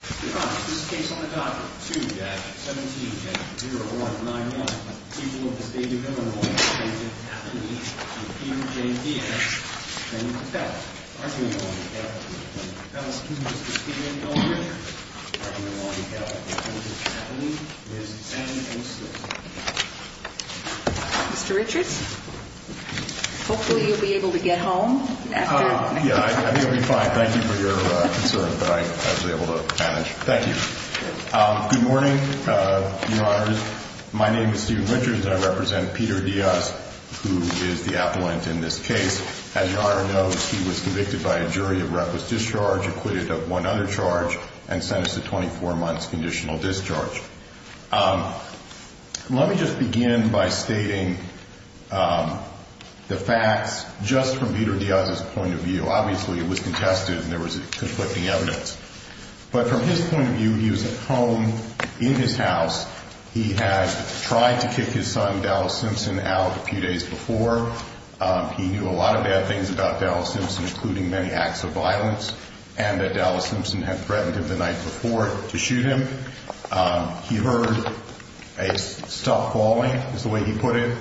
2-17-0191, people of the state of Illinois, President Kavanaugh and Peter J. Diaz. President Kavanaugh, Argumental on behalf of President Kavanaugh, excuse me, Mr. Stephen L. Richards. Argumental on behalf of President Kavanaugh, Ms. Anne O'Sullivan. Mr. Richards, hopefully you'll be able to get home. Yeah, I think I'll be fine. Thank you for your concern that I was able to manage. Thank you. Good morning, Your Honors. My name is Stephen Richards and I represent Peter Diaz, who is the appellant in this case. As Your Honor knows, he was convicted by a jury of reckless discharge, acquitted of one other charge, and sentenced to 24 months' conditional discharge. Let me just begin by stating the facts just from Peter Diaz's point of view. Obviously, it was contested and there was conflicting evidence. But from his point of view, he was at home in his house. He had tried to kick his son, Dallas Simpson, out a few days before. He knew a lot of bad things about Dallas Simpson, including many acts of violence, and that Dallas Simpson had threatened him the night before to shoot him. He heard a stop calling, is the way he put it.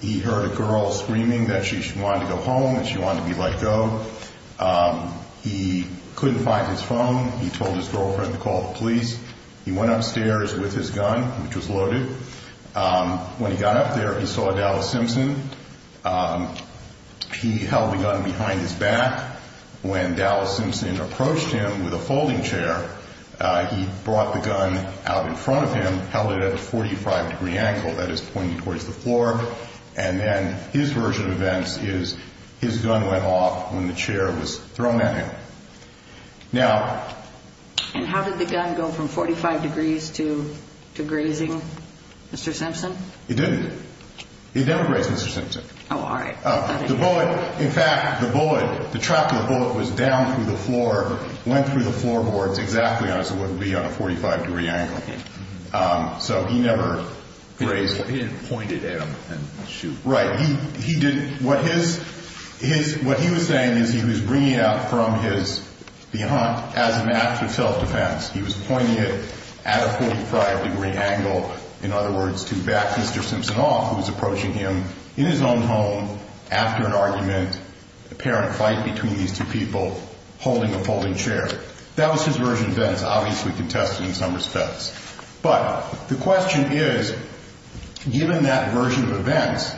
He heard a girl screaming that she wanted to go home, that she wanted to be let go. He couldn't find his phone. He told his girlfriend to call the police. He went upstairs with his gun, which was loaded. When he got up there, he saw Dallas Simpson. He held the gun behind his back. When Dallas Simpson approached him with a folding chair, he brought the gun out in front of him, held it at a 45-degree angle, that is, pointing towards the floor. And then his version of events is his gun went off when the chair was thrown at him. Now... And how did the gun go from 45 degrees to grazing Mr. Simpson? It didn't. It never grazed Mr. Simpson. Oh, all right. The bullet, in fact, the bullet, the trap of the bullet was down through the floor, went through the floorboards exactly as it would be on a 45-degree angle. So he never grazed... He didn't point it at him and shoot. Right. He didn't. What his, his, what he was saying is he was bringing it out from his, beyond, as an act of self-defense. He was pointing it at a 45-degree angle, in other words, to back Mr. Simpson off, who was approaching him in his own home after an argument, apparent fight between these two people, holding a folding chair. That was his version of events, obviously contested in some respects. But the question is, given that version of events,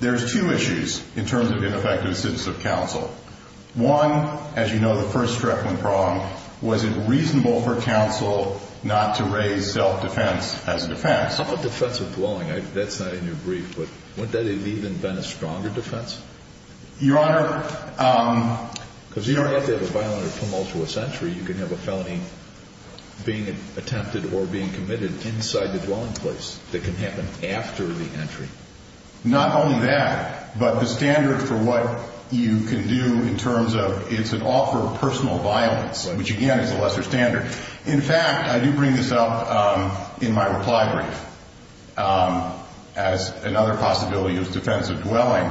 there's two issues in terms of ineffective citizens of counsel. One, as you know, the first struck me wrong, was it reasonable for counsel not to raise self-defense as a defense? How about defensive dwelling? That's not in your brief, but wouldn't that have even been a stronger defense? Your Honor... Because you don't have to have a violent or tumultuous entry. You can have a felony being attempted or being committed inside the dwelling place that can happen after the entry. Not only that, but the standard for what you can do in terms of, it's an offer of personal violence, which again is a lesser standard. In fact, I do bring this up in my reply brief as another possibility of defensive dwelling.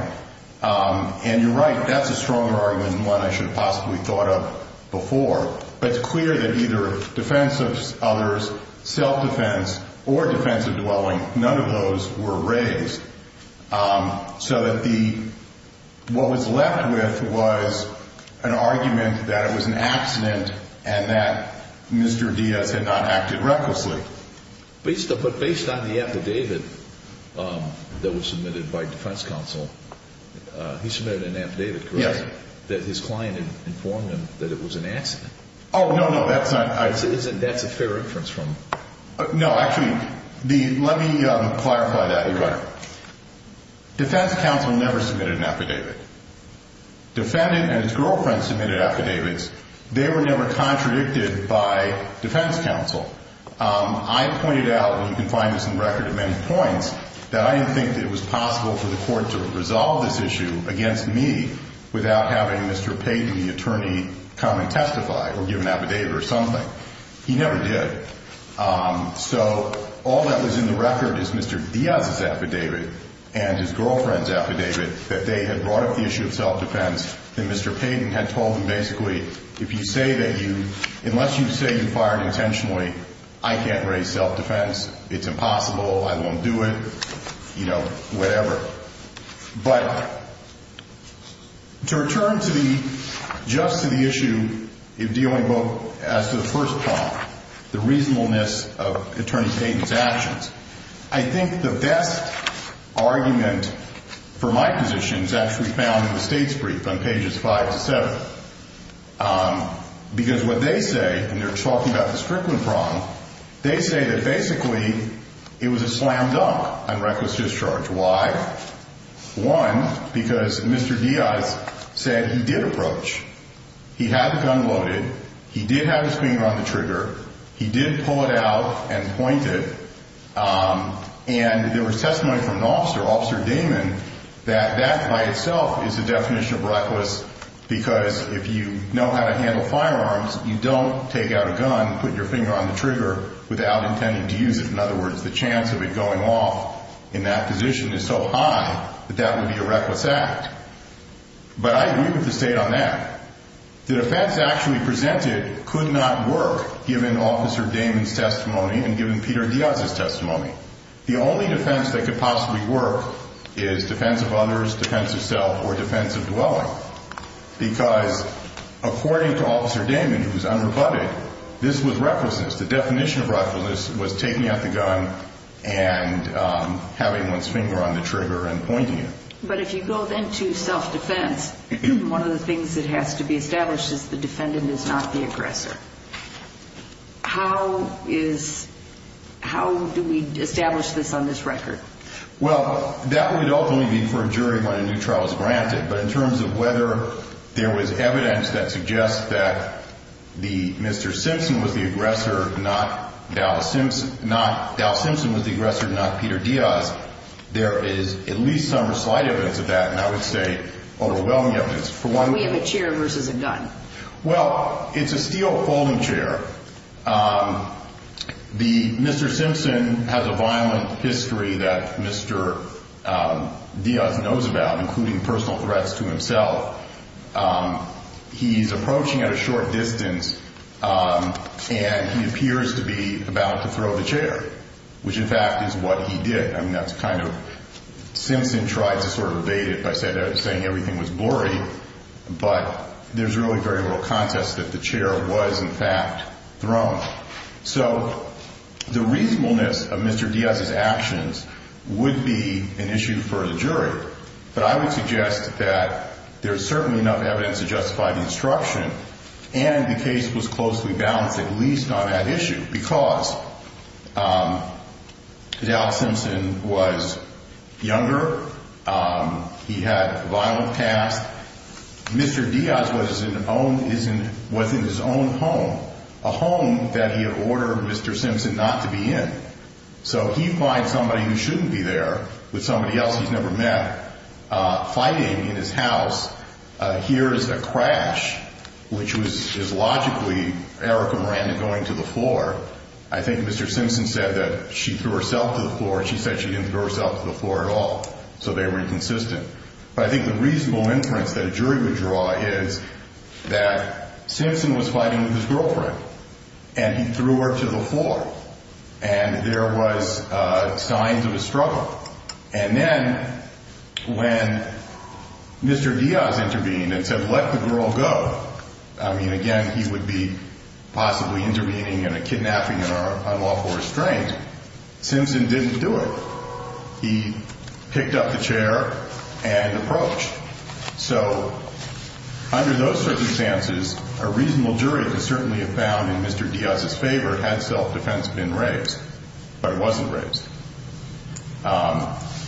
And you're right, that's a stronger argument than one I should have possibly thought of before. But it's clear that either defense of others, self-defense, or defensive dwelling, none of those were raised. So what was left with was an argument that it was an accident and that Mr. Diaz had not acted recklessly. But based on the affidavit that was submitted by defense counsel, he submitted an affidavit, correct? Yes. That his client had informed him that it was an accident. Oh, no, no, that's not... That's a fair reference from... No, actually, let me clarify that, Your Honor. Defense counsel never submitted an affidavit. Defendant and his girlfriend submitted affidavits. They were never contradicted by defense counsel. I pointed out, and you can find this in the record at many points, that I didn't think that it was possible for the court to resolve this issue against me without having Mr. Payden, the attorney, come and testify or give an affidavit or something. He never did. So all that was in the record is Mr. Diaz's affidavit and his girlfriend's affidavit that they had brought up the issue of self-defense and Mr. Payden had told them, basically, if you say that you...unless you say you fired intentionally, I can't raise self-defense. It's impossible. I won't do it. You know, whatever. But to return to the...just to the issue of dealing both as to the first problem, the reasonableness of Attorney Payden's actions, I think the best argument for my position is actually found in the state's brief on pages 5 to 7. Because what they say, and they're talking about the Strickland problem, they say that basically it was a slam dunk on reckless discharge. Why? One, because Mr. Diaz said he did approach. He had the gun loaded. He did have his finger on the trigger. He did pull it out and point it. And there was testimony from an officer, Officer Damon, that that by itself is a definition of reckless because if you know how to handle firearms, you don't take out a gun and put your finger on the trigger without intending to use it. In other words, the chance of it going off in that position is so high that that would be a reckless act. But I agree with the state on that. The defense actually presented could not work given Officer Damon's testimony and given Peter Diaz's testimony. The only defense that could possibly work is defense of others, defense of self, or defense of dwelling. Because according to Officer Damon, who was underbutted, this was recklessness. The definition of recklessness was taking out the gun and having one's finger on the trigger and pointing it. But if you go then to self-defense, one of the things that has to be established is the defendant is not the aggressor. How do we establish this on this record? Well, that would ultimately be for a jury when a new trial is granted. But in terms of whether there was evidence that suggests that Mr. Simpson was the aggressor, not Dow Simpson was the aggressor, not Peter Diaz, there is at least some slight evidence of that, and I would say overwhelming evidence. We have a chair versus a gun. Well, it's a steel folding chair. Mr. Simpson has a violent history that Mr. Diaz knows about, including personal threats to himself. He's approaching at a short distance, and he appears to be about to throw the chair, which in fact is what he did. I mean, that's kind of – Simpson tried to sort of evade it by saying everything was blurry, but there's really very little context that the chair was in fact thrown. So the reasonableness of Mr. Diaz's actions would be an issue for the jury, but I would suggest that there's certainly enough evidence to justify the instruction, and the case was closely balanced at least on that issue because Dow Simpson was younger. He had a violent past. Mr. Diaz was in his own home, a home that he had ordered Mr. Simpson not to be in. So he finds somebody who shouldn't be there with somebody else he's never met fighting in his house. Here is a crash, which is logically Erica Miranda going to the floor. I think Mr. Simpson said that she threw herself to the floor. She said she didn't throw herself to the floor at all, so they were inconsistent. But I think the reasonable inference that a jury would draw is that Simpson was fighting with his girlfriend, and he threw her to the floor, and there was signs of a struggle. And then when Mr. Diaz intervened and said, let the girl go, I mean, again, he would be possibly intervening in a kidnapping on lawful restraint. Simpson didn't do it. He picked up the chair and approached. So under those circumstances, a reasonable jury could certainly have found in Mr. Diaz's favor had self-defense been raised, but it wasn't raised.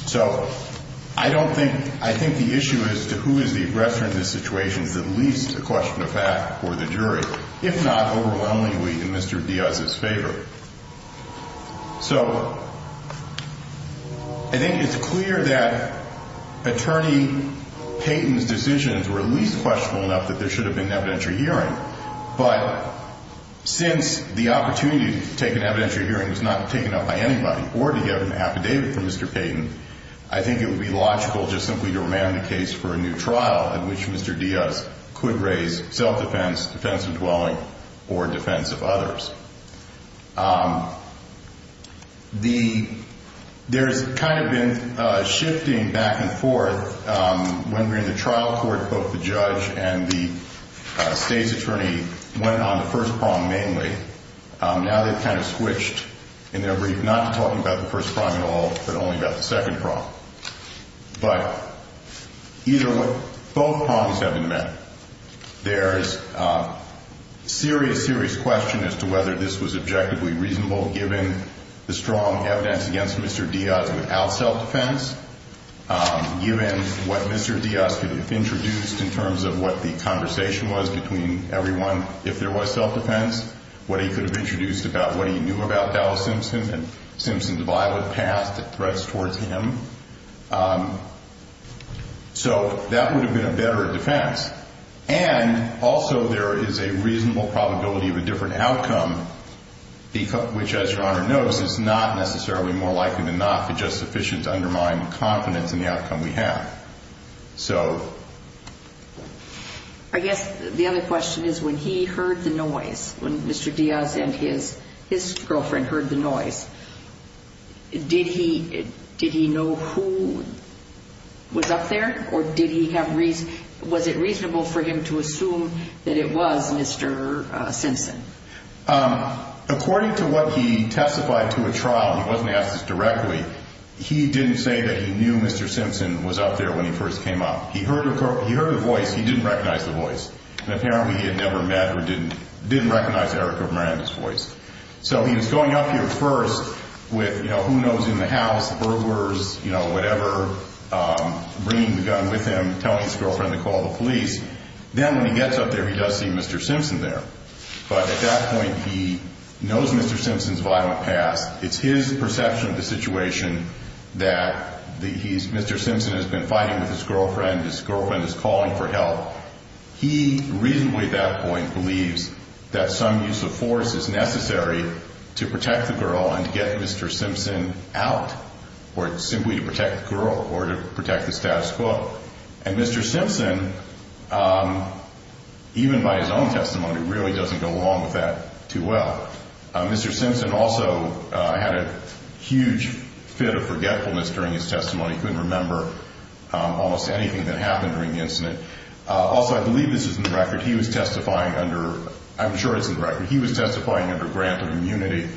So I don't think – I think the issue as to who is the aggressor in this situation is at least a question of fact for the jury, if not overwhelmingly in Mr. Diaz's favor. So I think it's clear that Attorney Payton's decisions were at least questionable enough that there should have been an evidentiary hearing. But since the opportunity to take an evidentiary hearing was not taken up by anybody or to get an affidavit from Mr. Payton, I think it would be logical just simply to remain in the case for a new trial in which Mr. Diaz could raise self-defense, defense of dwelling, or defense of others. There's kind of been shifting back and forth when we're in the trial court, both the judge and the state's attorney went on the first prong mainly. Now they've kind of switched in their brief, not talking about the first prong at all, but only about the second prong. But either – both prongs have been met. There's serious, serious question as to whether this was objectively reasonable given the strong evidence against Mr. Diaz without self-defense, given what Mr. Diaz could have introduced in terms of what the conversation was between everyone if there was self-defense, what he could have introduced about what he knew about Dallas Simpson and Simpson's violent past that threats towards him. So that would have been a better defense. And also there is a reasonable probability of a different outcome, which as Your Honor knows is not necessarily more likely than not to just sufficiently undermine confidence in the outcome we have. So... I guess the other question is when he heard the noise, when Mr. Diaz and his girlfriend heard the noise, did he know who was up there or did he have – was it reasonable for him to assume that it was Mr. Simpson? According to what he testified to a trial, he wasn't asked this directly, he didn't say that he knew Mr. Simpson was up there when he first came up. He heard her voice. He didn't recognize the voice. And apparently he had never met or didn't recognize Erica Miranda's voice. So he was going up here first with, you know, who knows in the house, burglars, you know, whatever, bringing the gun with him, telling his girlfriend to call the police. Then when he gets up there he does see Mr. Simpson there. But at that point he knows Mr. Simpson's violent past. It's his perception of the situation that Mr. Simpson has been fighting with his girlfriend, his girlfriend is calling for help. He reasonably at that point believes that some use of force is necessary to protect the girl and to get Mr. Simpson out or simply to protect the girl or to protect the status quo. And Mr. Simpson, even by his own testimony, really doesn't go along with that too well. Mr. Simpson also had a huge fit of forgetfulness during his testimony. He couldn't remember almost anything that happened during the incident. Also, I believe this is in the record, he was testifying under, I'm sure it's in the record, he was testifying under grant of immunity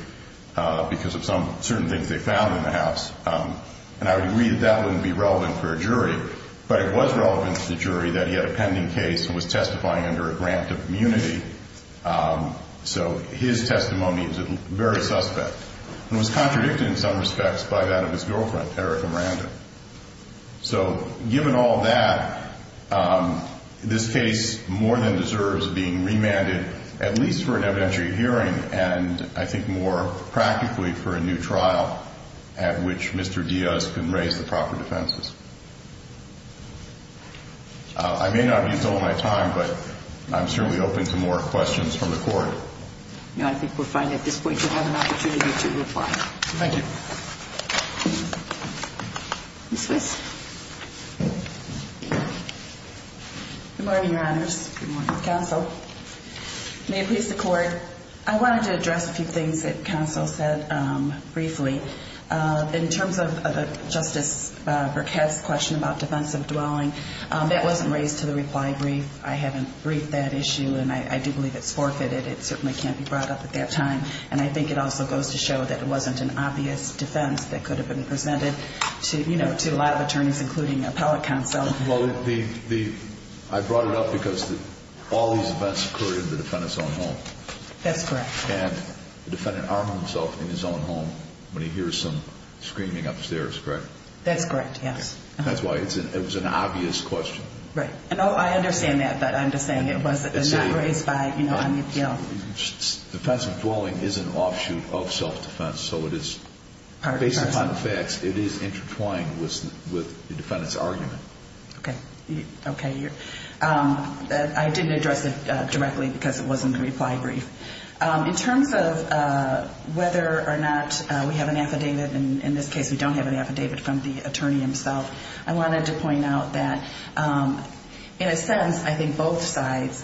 because of some certain things they found in the house. And I would agree that that wouldn't be relevant for a jury. But it was relevant to the jury that he had a pending case and was testifying under a grant of immunity. So his testimony is very suspect and was contradicted in some respects by that of his girlfriend, Erica Miranda. So given all that, this case more than deserves being remanded at least for an evidentiary hearing and I think more practically for a new trial at which Mr. Diaz can raise the proper defenses. I may not have used all my time, but I'm sure we open to more questions from the court. I think we're fine at this point. We have an opportunity to reply. Thank you. Good morning, Your Honors. Good morning, Counsel. May it please the Court, I wanted to address a few things that Counsel said briefly. In terms of Justice Burkett's question about defensive dwelling, that wasn't raised to the reply brief. I haven't briefed that issue and I do believe it's forfeited. It certainly can't be brought up at that time. And I think it also goes to show that it wasn't an obvious defense that could have been presented to a lot of attorneys, including appellate counsel. Well, I brought it up because all these events occurred in the defendant's own home. That's correct. And the defendant armed himself in his own home when he hears some screaming upstairs, correct? That's correct, yes. That's why it was an obvious question. Right. And I understand that, but I'm just saying it was not raised by, you know, on the appeal. Defensive dwelling is an offshoot of self-defense. So it is, based upon the facts, it is intertwined with the defendant's argument. Okay. Okay. I didn't address it directly because it wasn't the reply brief. In terms of whether or not we have an affidavit, and in this case we don't have an affidavit from the attorney himself, I wanted to point out that, in a sense, I think both sides,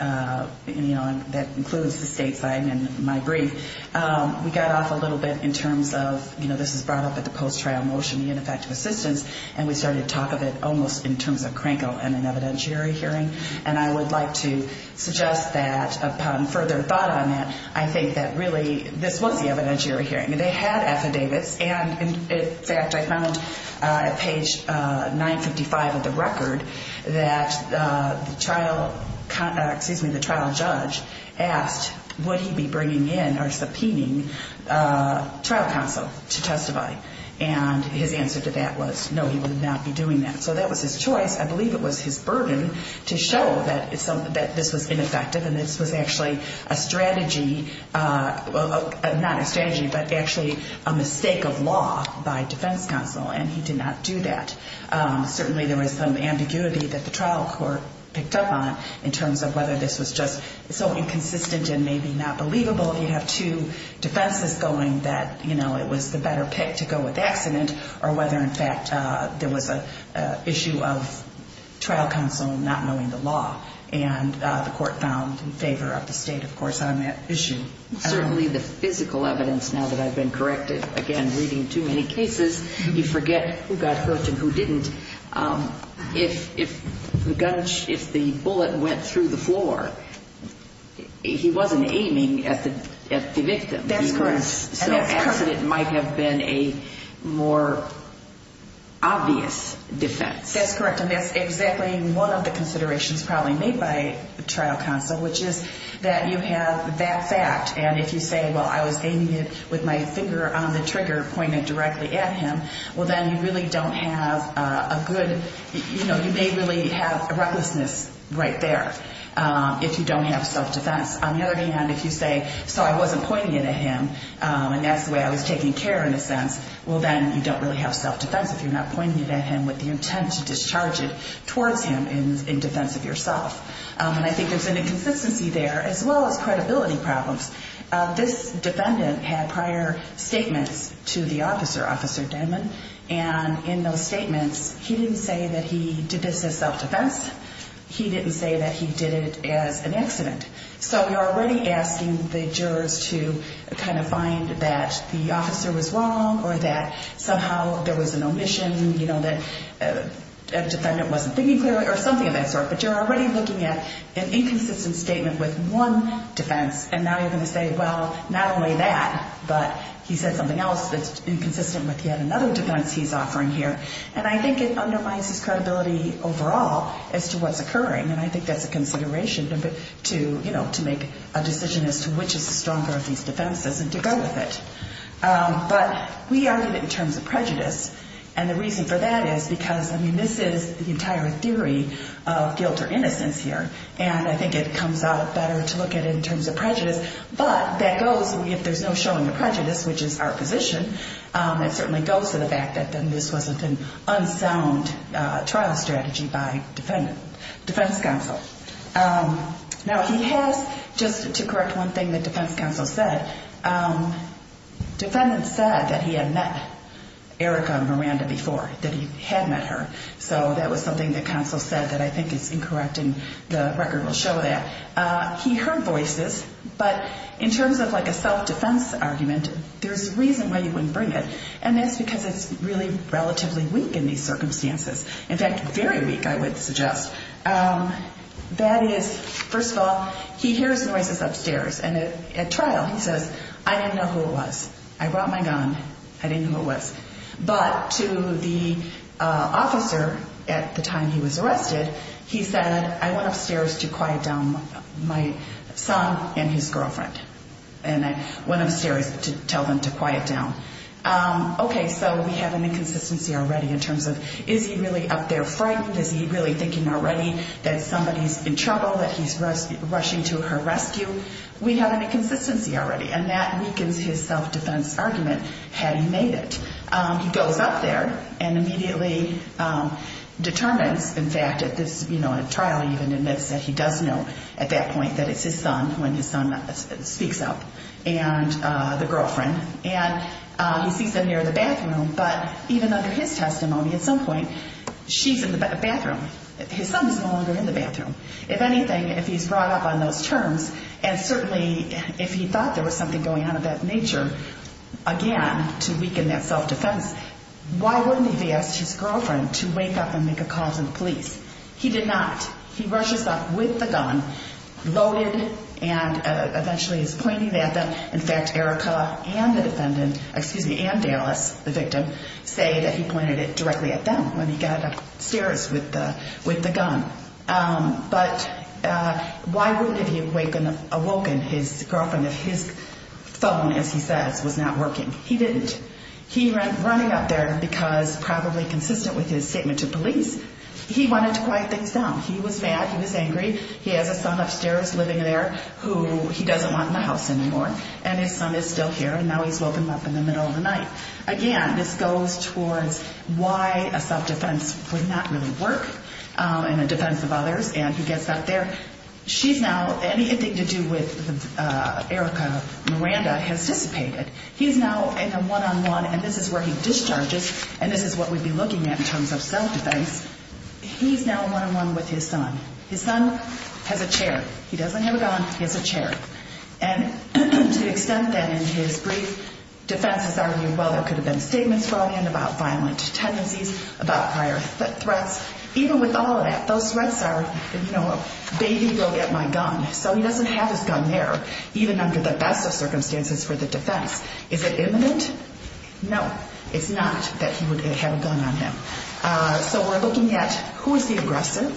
you know, that includes the state side and my brief, we got off a little bit in terms of, you know, this is brought up at the post-trial motion, the ineffective assistance, and we started to talk of it almost in terms of Kranko and an evidentiary hearing. And I would like to suggest that, upon further thought on that, I think that, really, this was the evidentiary hearing. They had affidavits, and, in fact, I found at page 955 of the record that the trial judge asked, would he be bringing in or subpoenaing trial counsel to testify? And his answer to that was, no, he would not be doing that. So that was his choice. I believe it was his burden to show that this was ineffective and this was actually a strategy, not a strategy, but actually a mistake of law by defense counsel, and he did not do that. Certainly there was some ambiguity that the trial court picked up on in terms of whether this was just so inconsistent and maybe not believable, you have two defenses going that, you know, it was the better pick to go with accident, or whether, in fact, there was an issue of trial counsel not knowing the law, and the court found in favor of the State, of course, on that issue. Certainly the physical evidence, now that I've been corrected, again, reading too many cases, you forget who got hurt and who didn't. If the bullet went through the floor, he wasn't aiming at the victim. That's correct. So accident might have been a more obvious defense. That's correct, and that's exactly one of the considerations probably made by trial counsel, which is that you have that fact, and if you say, well, I was aiming it with my finger on the trigger, pointed directly at him, well, then you really don't have a good, you know, you may really have recklessness right there if you don't have self-defense. On the other hand, if you say, so I wasn't pointing it at him, and that's the way I was taking care in a sense, well, then you don't really have self-defense if you're not pointing it at him with the intent to discharge it towards him in defense of yourself. And I think there's an inconsistency there as well as credibility problems. This defendant had prior statements to the officer, Officer Denman, and in those statements he didn't say that he did this as self-defense. He didn't say that he did it as an accident. So you're already asking the jurors to kind of find that the officer was wrong or that somehow there was an omission, you know, that a defendant wasn't thinking clearly or something of that sort. But you're already looking at an inconsistent statement with one defense, and now you're going to say, well, not only that, but he said something else that's inconsistent with yet another defense he's offering here. And I think it undermines his credibility overall as to what's occurring, and I think that's a consideration to, you know, to make a decision as to which is the stronger of these defenses and to go with it. But we argue that in terms of prejudice, and the reason for that is because, I mean, this is the entire theory of guilt or innocence here, and I think it comes out better to look at it in terms of prejudice. But that goes, if there's no showing of prejudice, which is our position, it certainly goes to the fact that then this was an unsound trial strategy by defendant, defense counsel. Now, he has, just to correct one thing that defense counsel said, defendant said that he had met Erica Miranda before, that he had met her. So that was something that counsel said that I think is incorrect, and the record will show that. He heard voices, but in terms of like a self-defense argument, there's a reason why you wouldn't bring it, and that's because it's really relatively weak in these circumstances. In fact, very weak, I would suggest. That is, first of all, he hears noises upstairs, and at trial, he says, I didn't know who it was. I brought my gun. I didn't know who it was. But to the officer at the time he was arrested, he said, I went upstairs to quiet down my son and his girlfriend. And I went upstairs to tell them to quiet down. Okay, so we have an inconsistency already in terms of is he really up there frightened? Is he really thinking already that somebody's in trouble, that he's rushing to her rescue? We have an inconsistency already, and that weakens his self-defense argument, had he made it. He goes up there and immediately determines, in fact, at this, you know, speaks up, and the girlfriend, and he sees them near the bathroom. But even under his testimony, at some point, she's in the bathroom. His son is no longer in the bathroom. If anything, if he's brought up on those terms, and certainly if he thought there was something going on of that nature, again, to weaken that self-defense, why wouldn't he have asked his girlfriend to wake up and make a call to the police? He did not. He rushes up with the gun, loaded, and eventually is pointing it at them. In fact, Erica and the defendant, excuse me, and Dallas, the victim, say that he pointed it directly at them when he got upstairs with the gun. But why wouldn't he have awoken his girlfriend if his phone, as he says, was not working? He didn't. He went running up there because, probably consistent with his statement to police, he wanted to quiet things down. He was mad. He was angry. He has a son upstairs living there who he doesn't want in the house anymore, and his son is still here, and now he's woken up in the middle of the night. Again, this goes towards why a self-defense would not really work in the defense of others, and he gets up there. She's now, anything to do with Erica Miranda has dissipated. He's now in a one-on-one, and this is where he discharges, and this is what we'd be looking at in terms of self-defense. He's now one-on-one with his son. His son has a chair. He doesn't have a gun. He has a chair. And to the extent that in his brief defense has argued, well, there could have been statements brought in about violent tendencies, about prior threats, even with all of that, those threats are, you know, baby, go get my gun. So he doesn't have his gun there, even under the best of circumstances for the defense. Is it imminent? No, it's not that he would have a gun on him. So we're looking at who is the aggressor.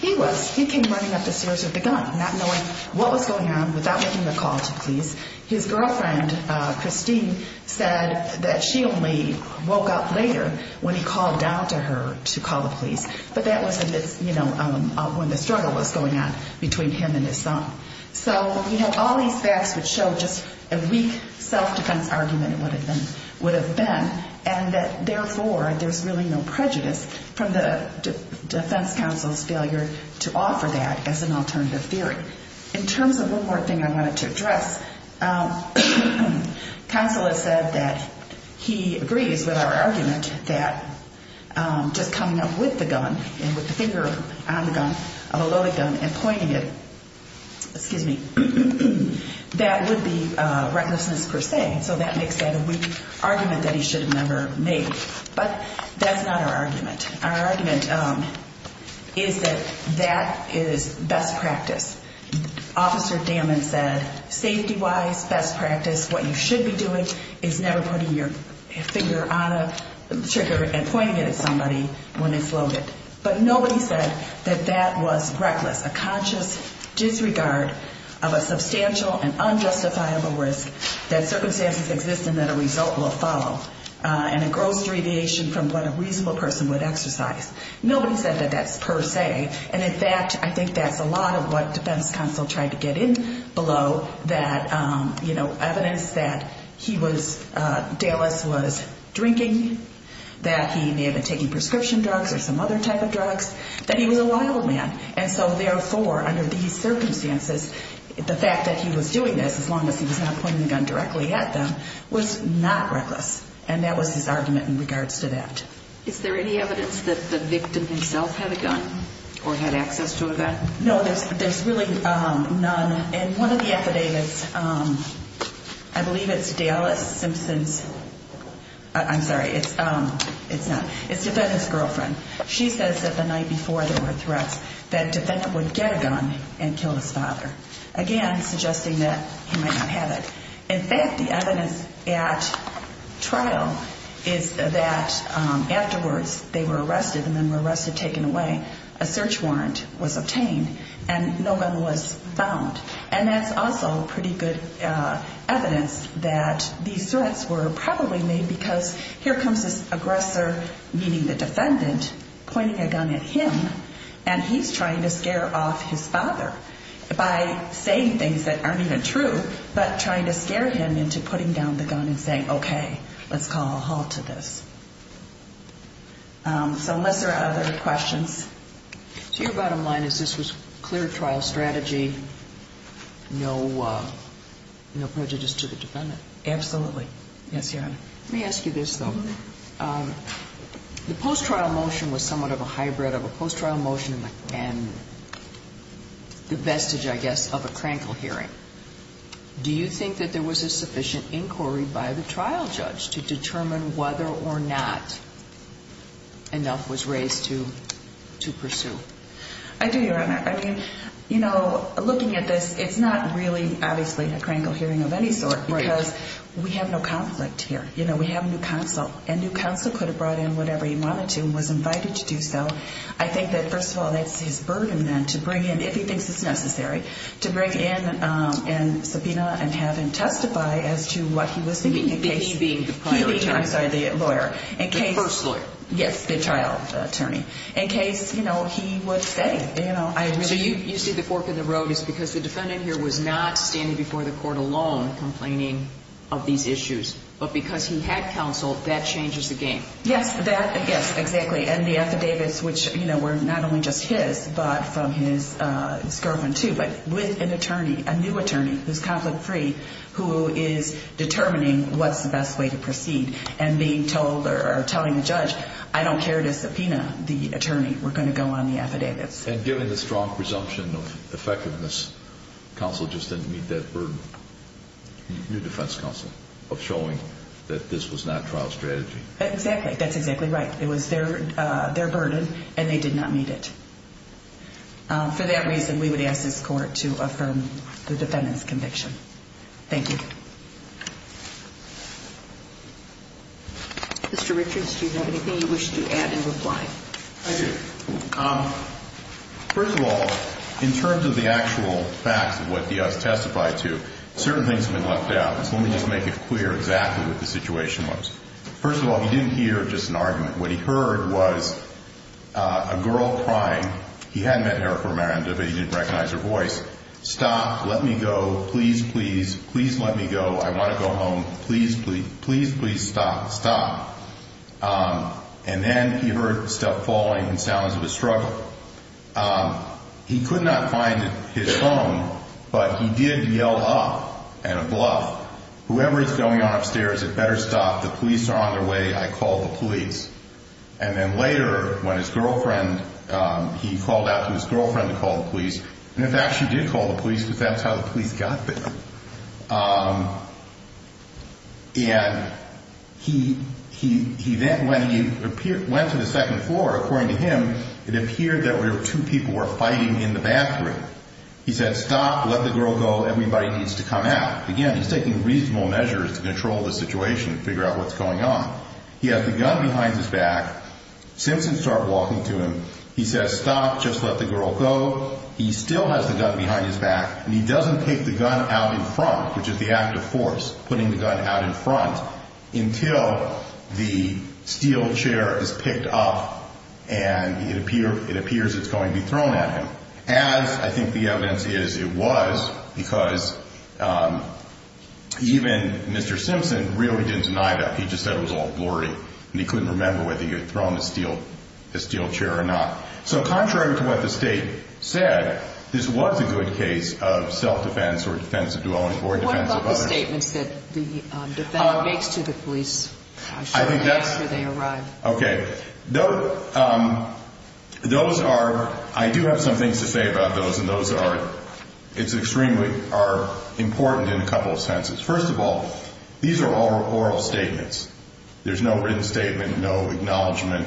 He was. He came running up the stairs with a gun, not knowing what was going on, without making a call to police. His girlfriend, Christine, said that she only woke up later when he called down to her to call the police, but that was when the struggle was going on between him and his son. So, you know, all these facts would show just a weak self-defense argument would have been, and that, therefore, there's really no prejudice from the defense counsel's failure to offer that as an alternative theory. In terms of one more thing I wanted to address, counsel has said that he agrees with our argument that just coming up with the gun and with the finger on the gun, below the gun, and pointing it, excuse me, that would be recklessness per se. So that makes that a weak argument that he should have never made. But that's not our argument. Our argument is that that is best practice. Officer Damman said, safety-wise, best practice, what you should be doing is never putting your finger on a trigger and pointing it at somebody when it's loaded. But nobody said that that was reckless, a conscious disregard of a substantial and unjustifiable risk that circumstances exist and that a result will follow, and a gross deviation from what a reasonable person would exercise. Nobody said that that's per se. And, in fact, I think that's a lot of what defense counsel tried to get in below, that, you know, evidence that he was, Dallas was drinking, that he may have been taking prescription drugs or some other type of drugs, that he was a wild man. And so, therefore, under these circumstances, the fact that he was doing this, as long as he was not pointing the gun directly at them, was not reckless. And that was his argument in regards to that. Is there any evidence that the victim himself had a gun or had access to a gun? No, there's really none. And one of the affidavits, I believe it's Dallas Simpson's, I'm sorry, it's not. It's Defendant's girlfriend. She says that the night before there were threats that Defendant would get a gun and kill his father, again, suggesting that he might not have it. In fact, the evidence at trial is that afterwards they were arrested and then were arrested, taken away. A search warrant was obtained and no one was found. And that's also pretty good evidence that these threats were probably made because here comes this aggressor, meaning the defendant, pointing a gun at him, and he's trying to scare off his father by saying things that aren't even true but trying to scare him into putting down the gun and saying, okay, let's call a halt to this. So unless there are other questions. So your bottom line is this was clear trial strategy, no prejudice to the defendant? Absolutely. Yes, Your Honor. Let me ask you this, though. The post-trial motion was somewhat of a hybrid of a post-trial motion and the vestige, I guess, of a crankle hearing. Do you think that there was a sufficient inquiry by the trial judge to determine whether or not enough was raised to pursue? I do, Your Honor. I mean, you know, looking at this, it's not really, obviously, a crankle hearing of any sort because we have no conflict here. You know, we have a new counsel, and new counsel could have brought in whatever he wanted to and was invited to do so. I think that, first of all, that's his burden then to bring in, if he thinks it's necessary, to bring in and subpoena and have him testify as to what he was thinking. He being the prior attorney. He being, I'm sorry, the lawyer. The first lawyer. Yes, the trial attorney. In case, you know, he would say, you know, I really. So you see the fork in the road is because the defendant here was not standing before the court alone complaining of these issues, but because he had counsel, that changes the game. Yes, that, yes, exactly. And the affidavits, which, you know, were not only just his, but from his girlfriend, too, but with an attorney, a new attorney who's conflict-free, who is determining what's the best way to proceed and being told or telling the judge, I don't care to subpoena the attorney. We're going to go on the affidavits. And given the strong presumption of effectiveness, counsel just didn't meet that burden, new defense counsel, of showing that this was not trial strategy. Exactly. That's exactly right. It was their burden, and they did not meet it. For that reason, we would ask this court to affirm the defendant's conviction. Thank you. Mr. Richards, do you have anything you wish to add in reply? I do. First of all, in terms of the actual facts of what he has testified to, certain things have been left out. So let me just make it clear exactly what the situation was. First of all, he didn't hear just an argument. What he heard was a girl crying. He hadn't met her before, but he didn't recognize her voice. Stop, let me go. Please, please, please let me go. I want to go home. Please, please, please, please stop. Stop. And then he heard step falling and sounds of a struggle. He could not find his phone, but he did yell up in a bluff, whoever is going on upstairs had better stop. The police are on their way. I called the police. And then later, when his girlfriend, he called out to his girlfriend to call the police. And in fact, she did call the police, but that's how the police got there. And he then, when he went to the second floor, according to him, it appeared that there were two people were fighting in the bathroom. He said, stop, let the girl go. Everybody needs to come out. Again, he's taking reasonable measures to control the situation, figure out what's going on. He had the gun behind his back. Simpson started walking to him. He says, stop, just let the girl go. He still has the gun behind his back. And he doesn't take the gun out in front, which is the act of force, putting the gun out in front until the steel chair is picked up and it appears it's going to be thrown at him. As I think the evidence is, it was, because even Mr. Simpson really didn't deny that. He just said it was all blurry. And he couldn't remember whether he had thrown the steel chair or not. So contrary to what the state said, this was a good case of self-defense or defense of duality or defense of others. What about the statements that the defendant makes to the police? I think that's where they arrive. Okay. Those are, I do have some things to say about those, and those are, it's extremely important in a couple of senses. First of all, these are all oral statements. There's no written statement, no acknowledgment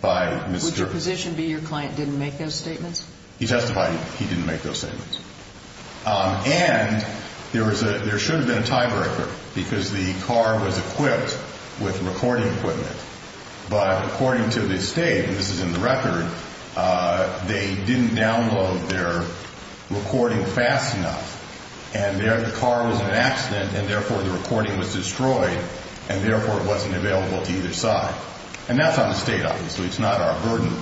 by Mr. Would your position be your client didn't make those statements? He testified he didn't make those statements. And there should have been a tiebreaker because the car was equipped with recording equipment, but according to the state, and this is in the record, they didn't download their recording fast enough. And the car was in an accident, and therefore the recording was destroyed, and therefore it wasn't available to either side. And that's on the state, obviously. It's not our burden.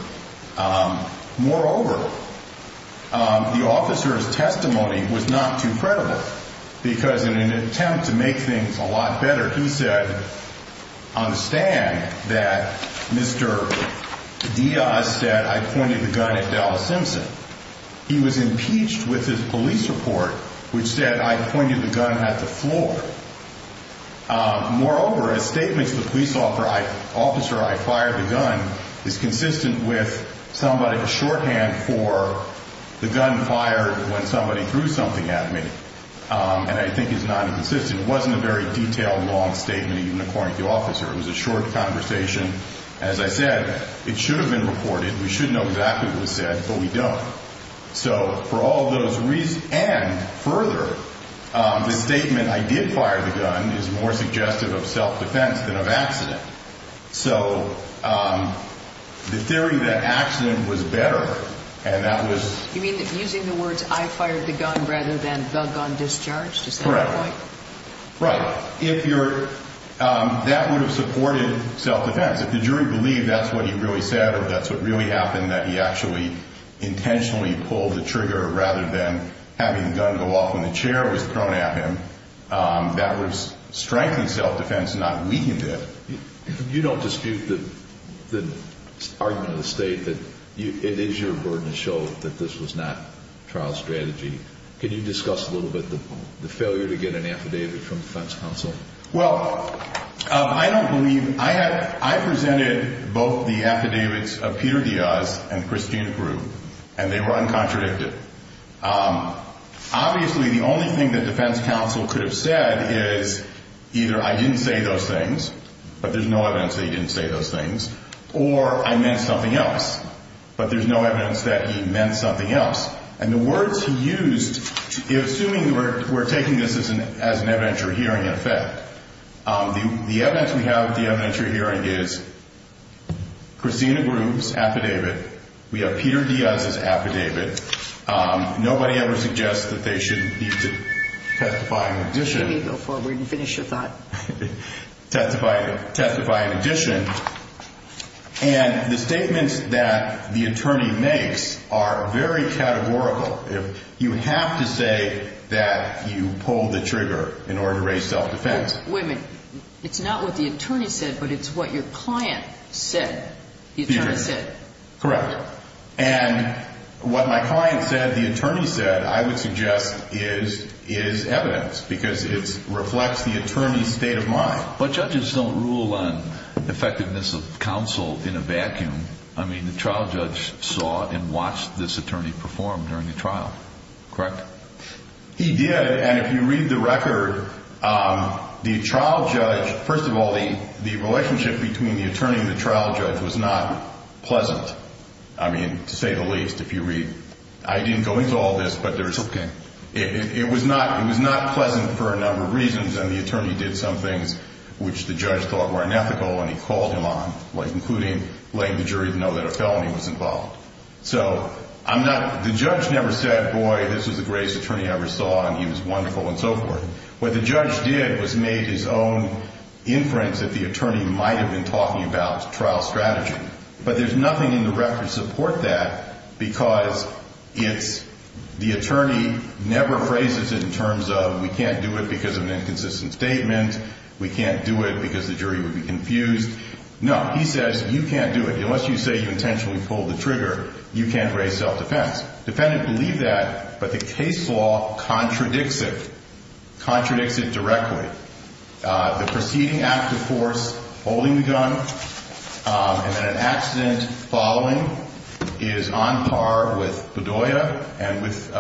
Moreover, the officer's testimony was not too credible because in an attempt to make things a lot better, he said on the stand that Mr. Diaz said I pointed the gun at Dallas Simpson. He was impeached with his police report, which said I pointed the gun at the floor. Moreover, a statement to the police officer, I fired the gun, is consistent with somebody's shorthand for the gun fired when somebody threw something at me. And I think it's not inconsistent. It wasn't a very detailed, long statement, even according to the officer. It was a short conversation. As I said, it should have been reported. We should know exactly what was said, but we don't. So for all those reasons, and further, the statement I did fire the gun is more suggestive of self-defense than of accident. So the theory that accident was better and that was— Right. That would have supported self-defense. If the jury believed that's what he really said or that's what really happened, that he actually intentionally pulled the trigger rather than having the gun go off when the chair was thrown at him, that would have strengthened self-defense and not weakened it. You don't dispute the argument of the State that it is your burden to show that this was not trial strategy. Can you discuss a little bit the failure to get an affidavit from defense counsel? Well, I don't believe—I presented both the affidavits of Peter Diaz and Christina Pruitt, and they were uncontradicted. Obviously, the only thing that defense counsel could have said is either I didn't say those things, but there's no evidence that he didn't say those things, or I meant something else, but there's no evidence that he meant something else. And the words he used—assuming we're taking this as an evidentiary hearing effect, the evidence we have at the evidentiary hearing is Christina Pruitt's affidavit. We have Peter Diaz's affidavit. Nobody ever suggests that they should need to testify in addition. Go forward and finish your thought. Testify in addition. And the statements that the attorney makes are very categorical. You have to say that you pulled the trigger in order to raise self-defense. Wait a minute. It's not what the attorney said, but it's what your client said the attorney said. Correct. And what my client said the attorney said, I would suggest, is evidence because it reflects the attorney's state of mind. But judges don't rule on effectiveness of counsel in a vacuum. I mean, the trial judge saw and watched this attorney perform during the trial, correct? He did, and if you read the record, the trial judge—first of all, the relationship between the attorney and the trial judge was not pleasant, I mean, to say the least, if you read. I didn't go into all this, but it was not pleasant for a number of reasons, and the attorney did some things which the judge thought were unethical and he called him on, including letting the jury know that a felony was involved. So I'm not—the judge never said, boy, this was the greatest attorney I ever saw and he was wonderful and so forth. What the judge did was made his own inference that the attorney might have been talking about trial strategy, but there's nothing in the record to support that because it's—the attorney never phrases it in terms of, we can't do it because of an inconsistent statement, we can't do it because the jury would be confused. No, he says, you can't do it. Unless you say you intentionally pulled the trigger, you can't raise self-defense. Defendant believed that, but the case law contradicts it. Contradicts it directly. The preceding act, of course, holding the gun, and then an accident following is on par with Bedoya and with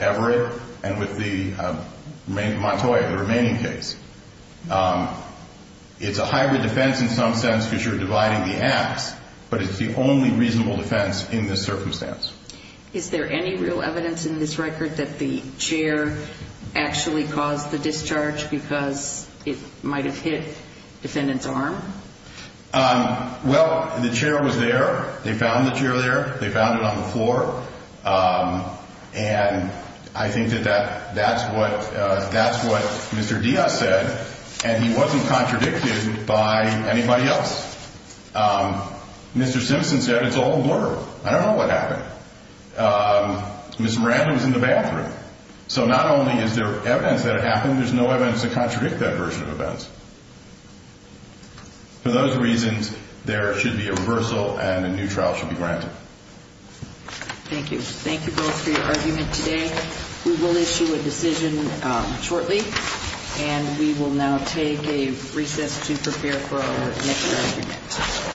Everett and with Montoya, the remaining case. It's a hybrid defense in some sense because you're dividing the acts, but it's the only reasonable defense in this circumstance. Is there any real evidence in this record that the chair actually caused the discharge because it might have hit defendant's arm? Well, the chair was there. They found the chair there. They found it on the floor, and I think that that's what Mr. Diaz said, and he wasn't contradicted by anybody else. Mr. Simpson said it's all a blur. I don't know what happened. Ms. Miranda was in the bathroom. So not only is there evidence that it happened, there's no evidence to contradict that version of events. For those reasons, there should be a reversal and a new trial should be granted. Thank you. Thank you both for your argument today. We will issue a decision shortly, and we will now take a recess to prepare for our next argument.